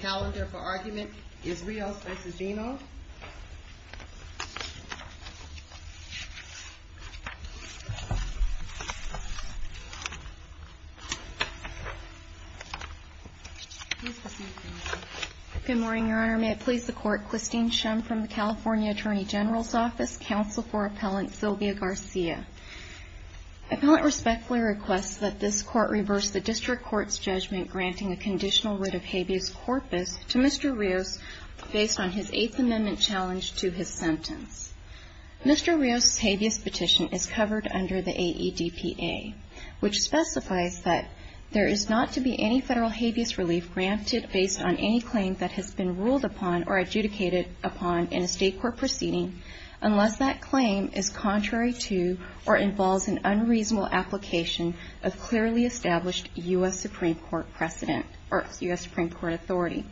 Calendar for argument is Rios v. Giurbino. Good morning, Your Honor. May it please the Court, Christine Shum from the California Attorney General's Office, Counsel for Appellant Sylvia Garcia. Appellant respectfully requests that this Court reverse the District Court's judgment granting a conditional writ of habeas corpus to Mr. Rios based on his Eighth Amendment challenge to his sentence. Mr. Rios' habeas petition is covered under the AEDPA, which specifies that there is not to be any federal habeas relief granted based on any claim that has been ruled upon or adjudicated upon in a State court proceeding unless that claim is contrary to or involves an unreasonable application of clearly established U.S. Supreme Court authority.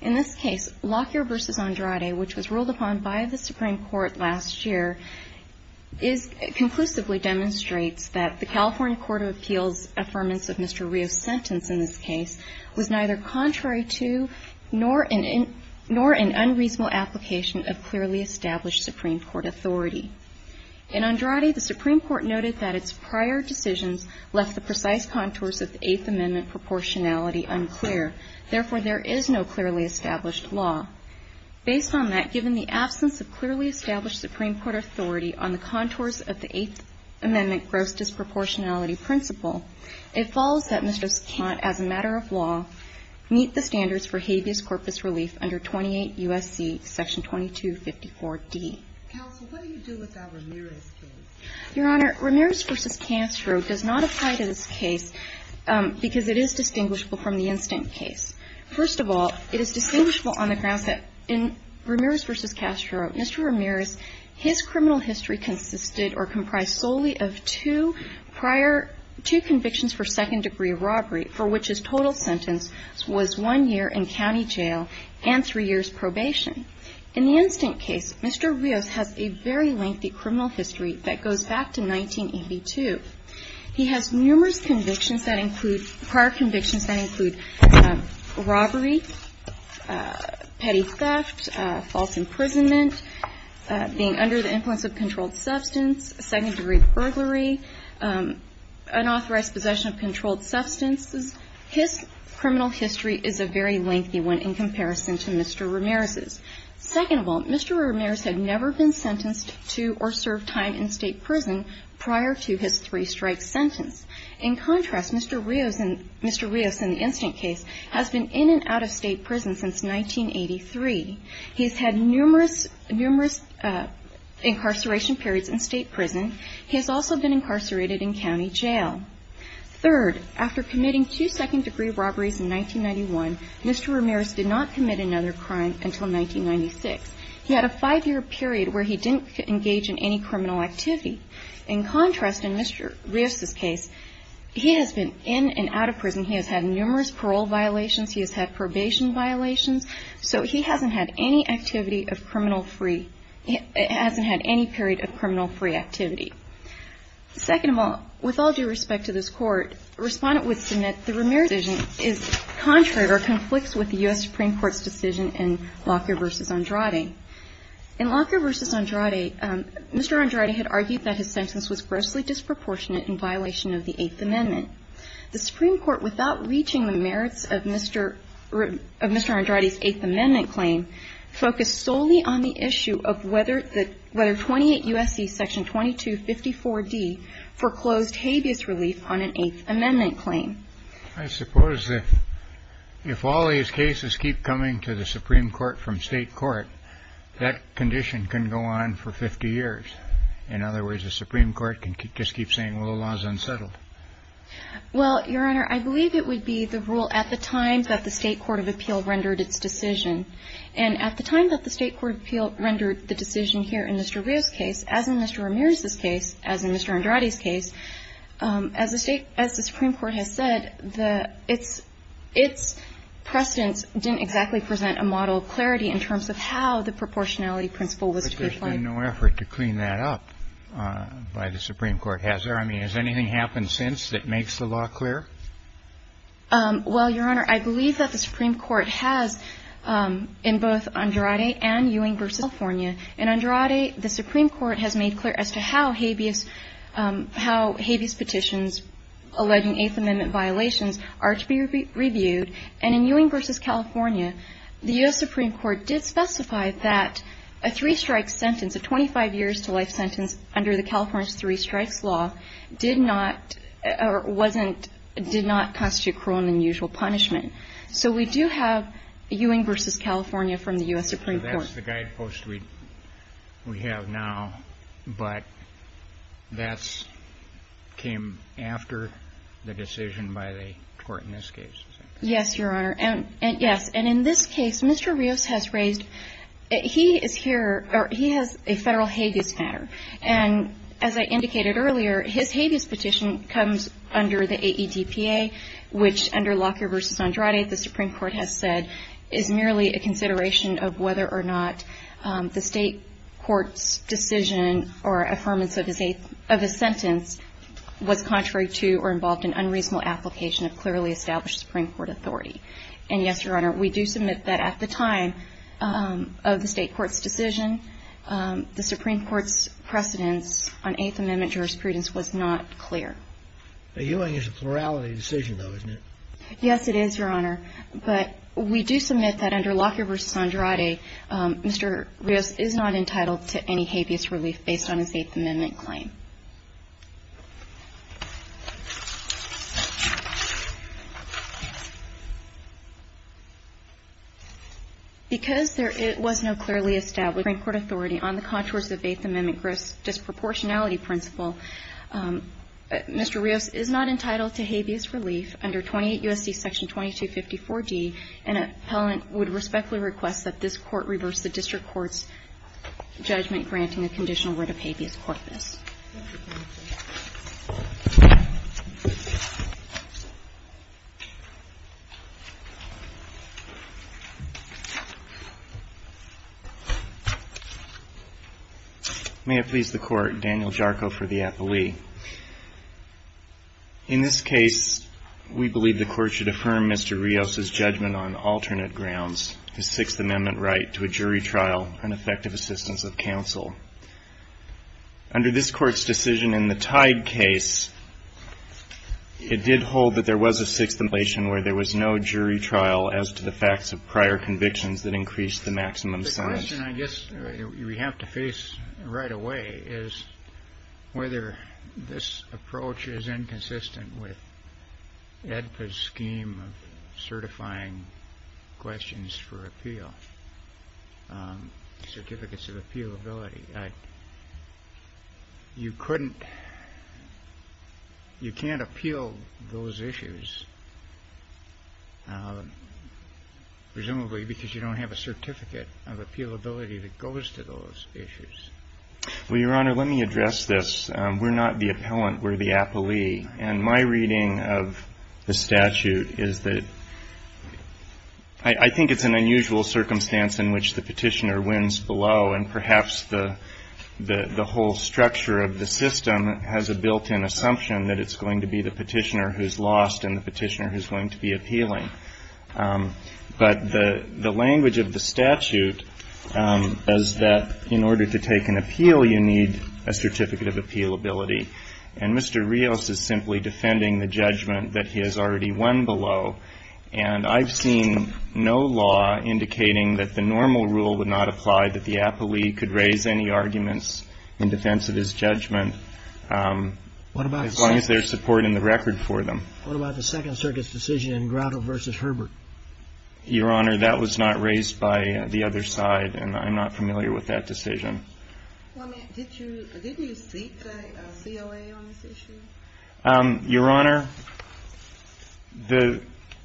In this case, Lockyer v. Andrade, which was ruled upon by the Supreme Court last year, conclusively demonstrates that the California Court of Appeals' affirmance of Mr. Rios' sentence in this case was neither contrary to nor an unreasonable application of clearly established Supreme Court authority. In Andrade, the Supreme Court noted that its prior decisions left the precise contours of the Eighth Amendment proportionality unclear. Therefore, there is no clearly established law. Based on that, given the absence of clearly established Supreme Court authority on the contours of the Eighth Amendment gross disproportionality principle, it follows that Mr. Scant, as a matter of law, meet the standards for habeas corpus relief under 28 U.S.C. Section 2254d. Counsel, what do you do with that Ramirez case? Your Honor, Ramirez v. Castro does not apply to this case because it is distinguishable from the instant case. First of all, it is distinguishable on the grounds that in Ramirez v. Castro, Mr. Ramirez, his criminal history consisted or comprised solely of two prior, two convictions for second-degree robbery, for which his total sentence was one year in county jail and three years probation. In the instant case, Mr. Rios has a very lengthy criminal history that goes back to 1982. He has numerous convictions that include, prior convictions that include robbery, petty theft, false imprisonment, being under the influence of controlled substance, second-degree burglary, unauthorized possession of controlled substances. His criminal history is a very lengthy one in comparison to Mr. Ramirez's. Second of all, Mr. Ramirez had never been sentenced to or served time in state prison prior to his three-strike sentence. In contrast, Mr. Rios in the instant case has been in and out of state prison since 1983. He has had numerous incarceration periods in state prison. He has also been incarcerated in county jail. Third, after committing two second-degree robberies in 1991, Mr. Ramirez did not commit another crime until 1996. He had a five-year period where he didn't engage in any criminal activity. In contrast, in Mr. Rios's case, he has been in and out of prison. He has had numerous parole violations. He has had probation violations. So he hasn't had any activity of criminal free – hasn't had any period of criminal free activity. Second of all, with all due respect to this Court, a respondent would submit the Ramirez decision is contrary or conflicts with the U.S. Supreme Court's decision in Lockyer v. Andrade. In Lockyer v. Andrade, Mr. Andrade had argued that his sentence was grossly disproportionate in violation of the Eighth Amendment. The Supreme Court, without reaching the merits of Mr. Andrade's Eighth Amendment claim, focused solely on the issue of whether 28 U.S.C. Section 2254D foreclosed habeas relief on an Eighth Amendment claim. I suppose that if all these cases keep coming to the Supreme Court from state court, that condition can go on for 50 years. In other words, the Supreme Court can just keep saying, well, the law is unsettled. Well, Your Honor, I believe it would be the rule at the time that the State Court of Appeal rendered its decision. And at the time that the State Court of Appeal rendered the decision here in Mr. Rios's case, as in Mr. Ramirez's case, as in Mr. Andrade's case, as the State – as the Supreme Court has said, the – its precedence didn't exactly present a model of clarity in terms of how the proportionality principle was to be applied. But there's been no effort to clean that up by the Supreme Court, has there? I mean, has anything happened since that makes the law clear? Well, Your Honor, I believe that the Supreme Court has in both Andrade and Ewing v. California. In Andrade, the Supreme Court has made clear as to how habeas – how habeas petitions alleging Eighth Amendment violations are to be reviewed. And in Ewing v. California, the U.S. Supreme Court did specify that a three-strike sentence, a 25-years-to-life sentence under the California's three-strikes law, did not – or wasn't – did not constitute cruel and unusual punishment. So we do have Ewing v. California from the U.S. Supreme Court. So that's the guidepost we have now, but that's – came after the decision by the court in this case, is that correct? Yes, Your Honor. And in this case, Mr. Rios has raised – he is here – or he has a federal habeas matter. And as I indicated earlier, his habeas petition comes under the AEDPA, which under Lockyer v. Andrade, the Supreme Court has said, is merely a consideration of whether or not the state court's decision or affirmance of his sentence was contrary to or involved in unreasonable application of clearly established Supreme Court authority. And yes, Your Honor, we do submit that at the time of the state court's decision, the Supreme Court's precedence on Eighth Amendment jurisprudence was not clear. But Ewing is a plurality decision, though, isn't it? Yes, it is, Your Honor. But we do submit that under Lockyer v. Andrade, Mr. Rios is not entitled to any habeas relief based on his Eighth Amendment claim. Because there was no clearly established Supreme Court authority on the contours of the Eighth Amendment gross disproportionality principle, Mr. Rios is not entitled to habeas relief under 28 U.S.C. Section 2254d, and an appellant would respectfully request that this Court reverse the district court's judgment granting a conditional word of habeas corpus. Thank you, Your Honor. May it please the Court, Daniel Jarko for the appellee. In this case, we believe the Court should affirm Mr. Rios's judgment on alternate Under this Court's decision in the Teig case, it did hold that there was a Sixth Amendment violation where there was no jury trial as to the facts of prior convictions that increased the maximum sentence. The question, I guess, we have to face right away is whether this approach is inconsistent with AEDPA's scheme of certifying questions for appeal, certificates of appealability. You couldn't, you can't appeal those issues, presumably because you don't have a certificate of appealability that goes to those issues. Well, Your Honor, let me address this. We're not the appellant. We're the appellee. And my reading of the statute is that I think it's an unusual circumstance in which the petitioner wins below, and perhaps the whole structure of the system has a built-in assumption that it's going to be the petitioner who's lost and the petitioner who's going to be appealing. But the language of the statute is that in order to take an appeal, you need a certificate of appealability. And Mr. Rios is simply defending the judgment that he has already won below. And I've seen no law indicating that the normal rule would not apply, that the appellee could raise any arguments in defense of his judgment as long as there's support in the record for them. What about the Second Circuit's decision in Grotto v. Herbert? Your Honor, that was not raised by the other side, and I'm not familiar with that decision. Well, did you seek a COA on this issue? Your Honor, the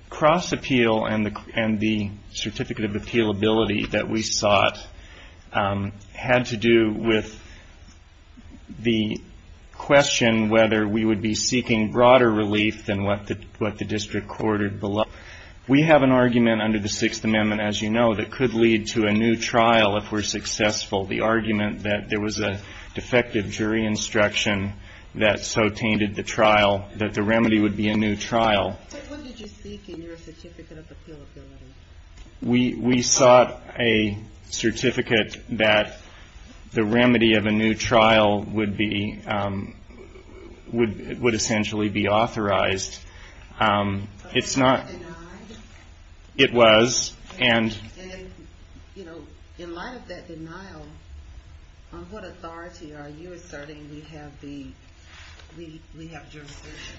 cross-appeal and the certificate of appealability that we sought had to do with the question whether we would be seeking broader relief than what the district court had below. We have an argument under the Sixth Amendment, as you know, that could lead to a new trial if we're successful, the argument that there was a defective jury instruction that so tainted the trial that the remedy would be a new trial. But what did you seek in your certificate of appealability? We sought a certificate that the remedy of a new trial would essentially be authorized. But it was denied? It was. And in light of that denial, on what authority are you asserting we have jurisdiction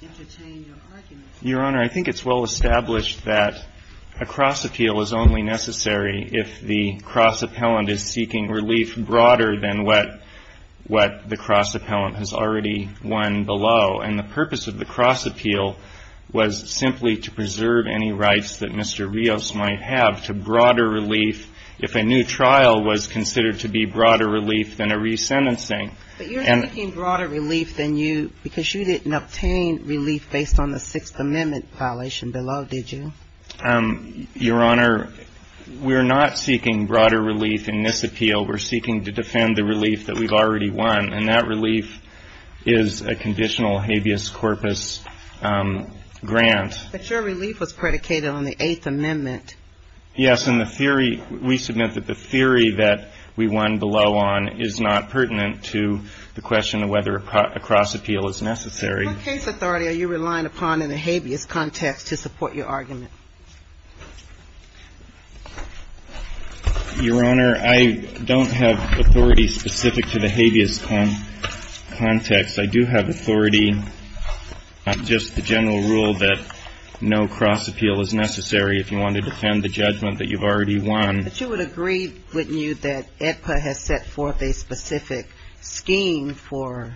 to entertain your argument? Your Honor, I think it's well established that a cross-appeal is only necessary if the cross-appellant is seeking relief broader than what the cross-appellant has already won below. And the purpose of the cross-appeal was simply to preserve any rights that Mr. Rios might have to broader relief if a new trial was considered to be broader relief than a resentencing. But you're seeking broader relief than you because you didn't obtain relief based on the Sixth Amendment violation below, did you? Your Honor, we're not seeking broader relief in this appeal. We're seeking to defend the relief that we've already won. And that relief is a conditional habeas corpus grant. But your relief was predicated on the Eighth Amendment. Yes. And the theory we submit that the theory that we won below on is not pertinent to the question of whether a cross-appeal is necessary. What case authority are you relying upon in the habeas context to support your argument? Your Honor, I don't have authority specific to the habeas context. I do have authority on just the general rule that no cross-appeal is necessary if you want to defend the judgment that you've already won. But you would agree, wouldn't you, that AEDPA has set forth a specific scheme for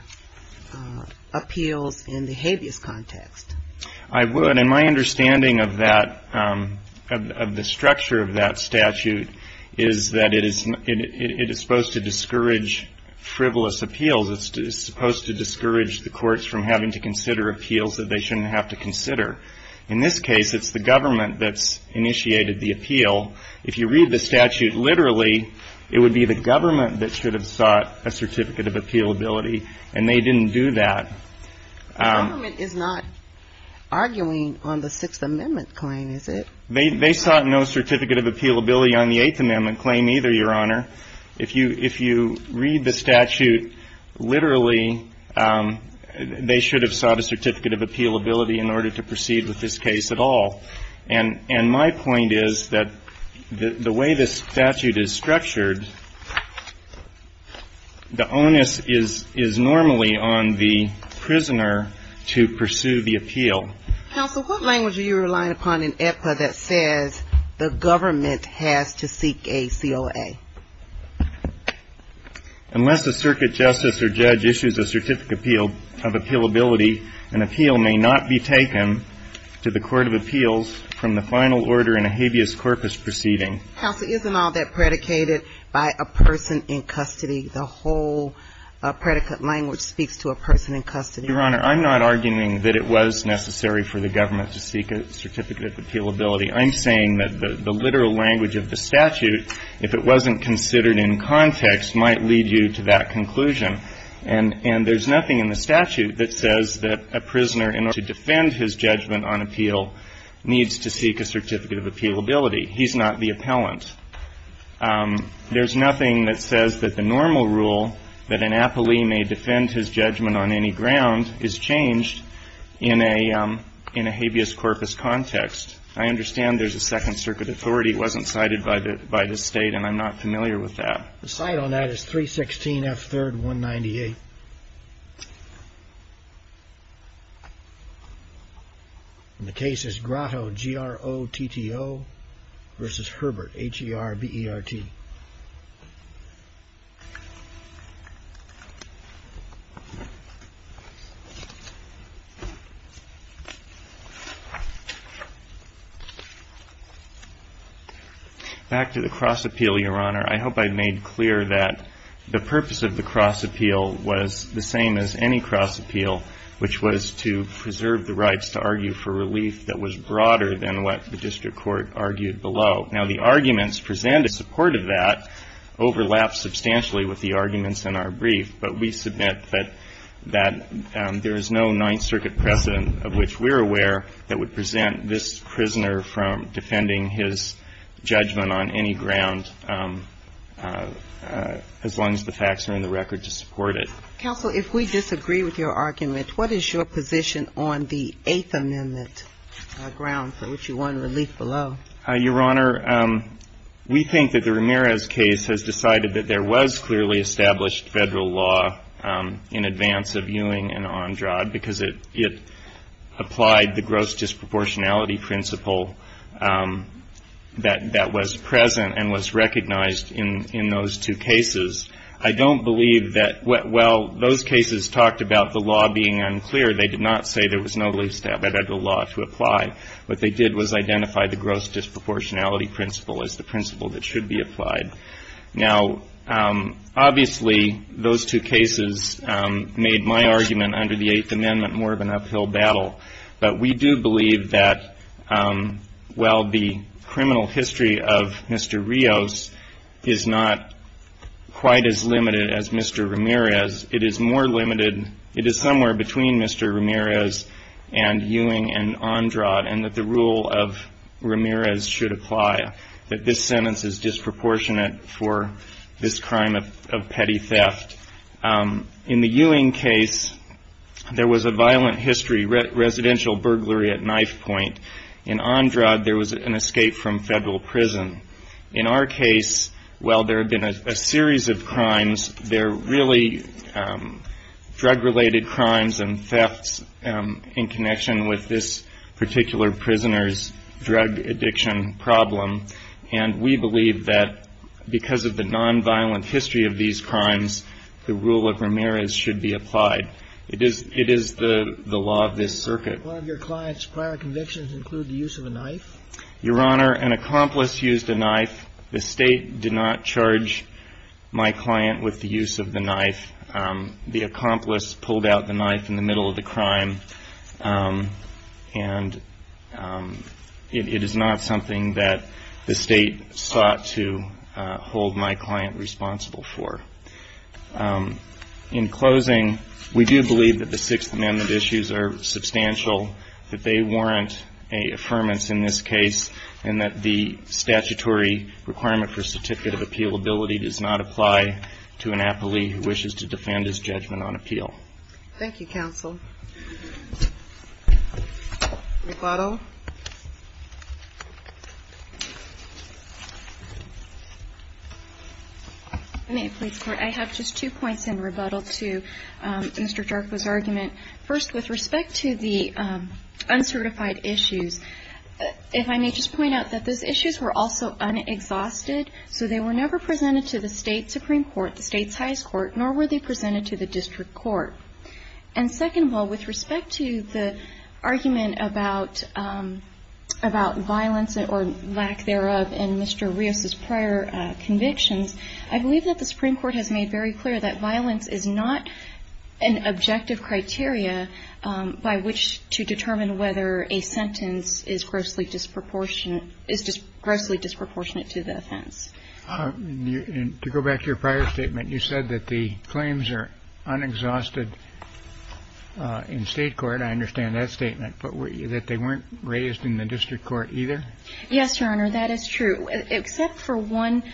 appeals in the habeas context? I would. And my understanding of that, of the structure of that statute, is that it is supposed to discourage frivolous appeals. It's supposed to discourage the courts from having to consider appeals that they shouldn't have to consider. In this case, it's the government that's initiated the appeal. If you read the statute literally, it would be the government that should have sought a certificate of appealability. And they didn't do that. The government is not arguing on the Sixth Amendment claim, is it? They sought no certificate of appealability on the Eighth Amendment claim either, Your Honor. If you read the statute literally, they should have sought a certificate of appealability in order to proceed with this case at all. And my point is that the way this statute is structured, the onus is normally on the prisoner to pursue the appeal. Counsel, what language are you relying upon in AEDPA that says the government has to seek a COA? Unless a circuit justice or judge issues a certificate of appealability, an appeal may not be taken to the court of appeals from the final order in a habeas corpus proceeding. Counsel, isn't all that predicated by a person in custody? The whole predicate language speaks to a person in custody. Your Honor, I'm not arguing that it was necessary for the government to seek a certificate of appealability. I'm saying that the literal language of the statute, if it wasn't considered in context, might lead you to that conclusion. And there's nothing in the statute that says that a prisoner in order to defend his judgment on appeal needs to seek a certificate of appealability. He's not the appellant. There's nothing that says that the normal rule that an appellee may defend his judgment on any ground is changed in a habeas corpus context. I understand there's a Second Circuit authority. It wasn't cited by the State, and I'm not familiar with that. The site on that is 316 F3rd 198. The case is Grotto, G-R-O-T-T-O versus Herbert, H-E-R-B-E-R-T. Back to the cross appeal, Your Honor. I hope I made clear that the purpose of the cross appeal was the same as any cross appeal, which was to preserve the rights to argue for relief that was broader than what the district court argued below. Now, the arguments presented in support of that overlap substantially with the arguments in our brief, but we submit that there is no Ninth Circuit precedent of which we're aware that would present this prisoner from defending his judgment on any ground as long as the facts are in the record to support it. Counsel, if we disagree with your argument, what is your position on the Eighth Amendment ground for which you want relief below? Your Honor, we think that the Ramirez case has decided that there was clearly established Federal law in advance of Ewing and Ondrad because it applied the gross disproportionality principle that was present and was recognized in those two cases. I don't believe that while those cases talked about the law being unclear, they did not say there was no least established Federal law to apply. What they did was identify the gross disproportionality principle as the principle that should be applied. Now, obviously, those two cases made my argument under the Eighth Amendment more of an uphill battle, but we do believe that while the criminal history of Mr. Rios is not quite as limited as Mr. Ramirez, it is more limited, it is somewhere between Mr. Ramirez and Ewing and Ondrad, and that the rule of Ramirez should apply, that this sentence is disproportionate for this crime of petty theft. In the Ewing case, there was a violent history, residential burglary at knife point. In Ondrad, there was an escape from Federal prison. In our case, while there have been a series of crimes, they're really drug-related crimes and thefts in connection with this particular prisoner's drug addiction problem, and we believe that because of the nonviolent history of these crimes, the rule of Ramirez should be applied. It is the law of this circuit. One of your client's prior convictions include the use of a knife? Your Honor, an accomplice used a knife. The State did not charge my client with the use of the knife. The accomplice pulled out the knife in the middle of the crime, and it is not something that the State sought to hold my client responsible for. In closing, we do believe that the Sixth Amendment issues are substantial, that they warrant an affirmance in this case, and that the statutory requirement for certificate of appealability does not apply to an appellee who wishes to defend his judgment on appeal. Thank you, counsel. Rebuttal. If I may, please, Court. I have just two points in rebuttal to Mr. Jarqua's argument. First, with respect to the uncertified issues, if I may just point out that those issues were also unexhausted, so they were never presented to the State Supreme Court, the State's highest court, nor were they presented to the district court. And second of all, with respect to the argument about violence or lack thereof in Mr. Rios's prior convictions, I believe that the Supreme Court has made very clear that violence is not an objective criteria by which to determine whether a sentence is grossly disproportionate to the offense. To go back to your prior statement, you said that the claims are unexhausted in State court. I understand that statement, but that they weren't raised in the district court either? Yes, Your Honor, that is true. Except for one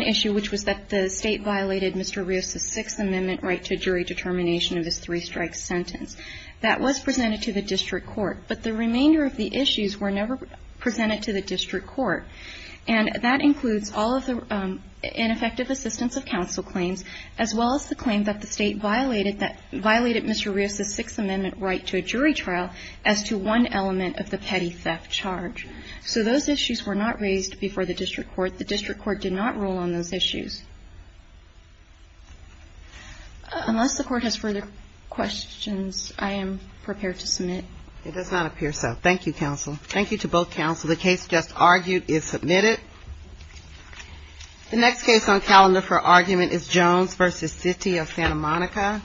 issue, which was that the State violated Mr. Rios's Sixth Amendment right to jury determination of his three-strike sentence. That was presented to the district court, but the remainder of the issues were never presented to the district court. And that includes all of the ineffective assistance of counsel claims, as well as the claim that the State violated Mr. Rios's Sixth Amendment right to a jury trial as to one element of the petty theft charge. So those issues were not raised before the district court. The district court did not rule on those issues. Unless the court has further questions, I am prepared to submit. It does not appear so. Thank you, counsel. Thank you to both counsel. The case just argued is submitted. The next case on calendar for argument is Jones v. City of Santa Monica.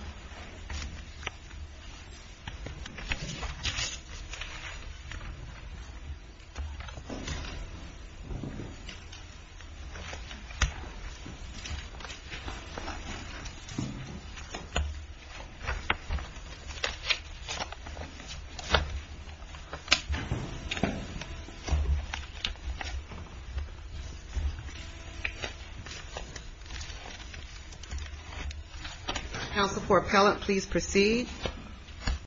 Counsel for appellant, please proceed.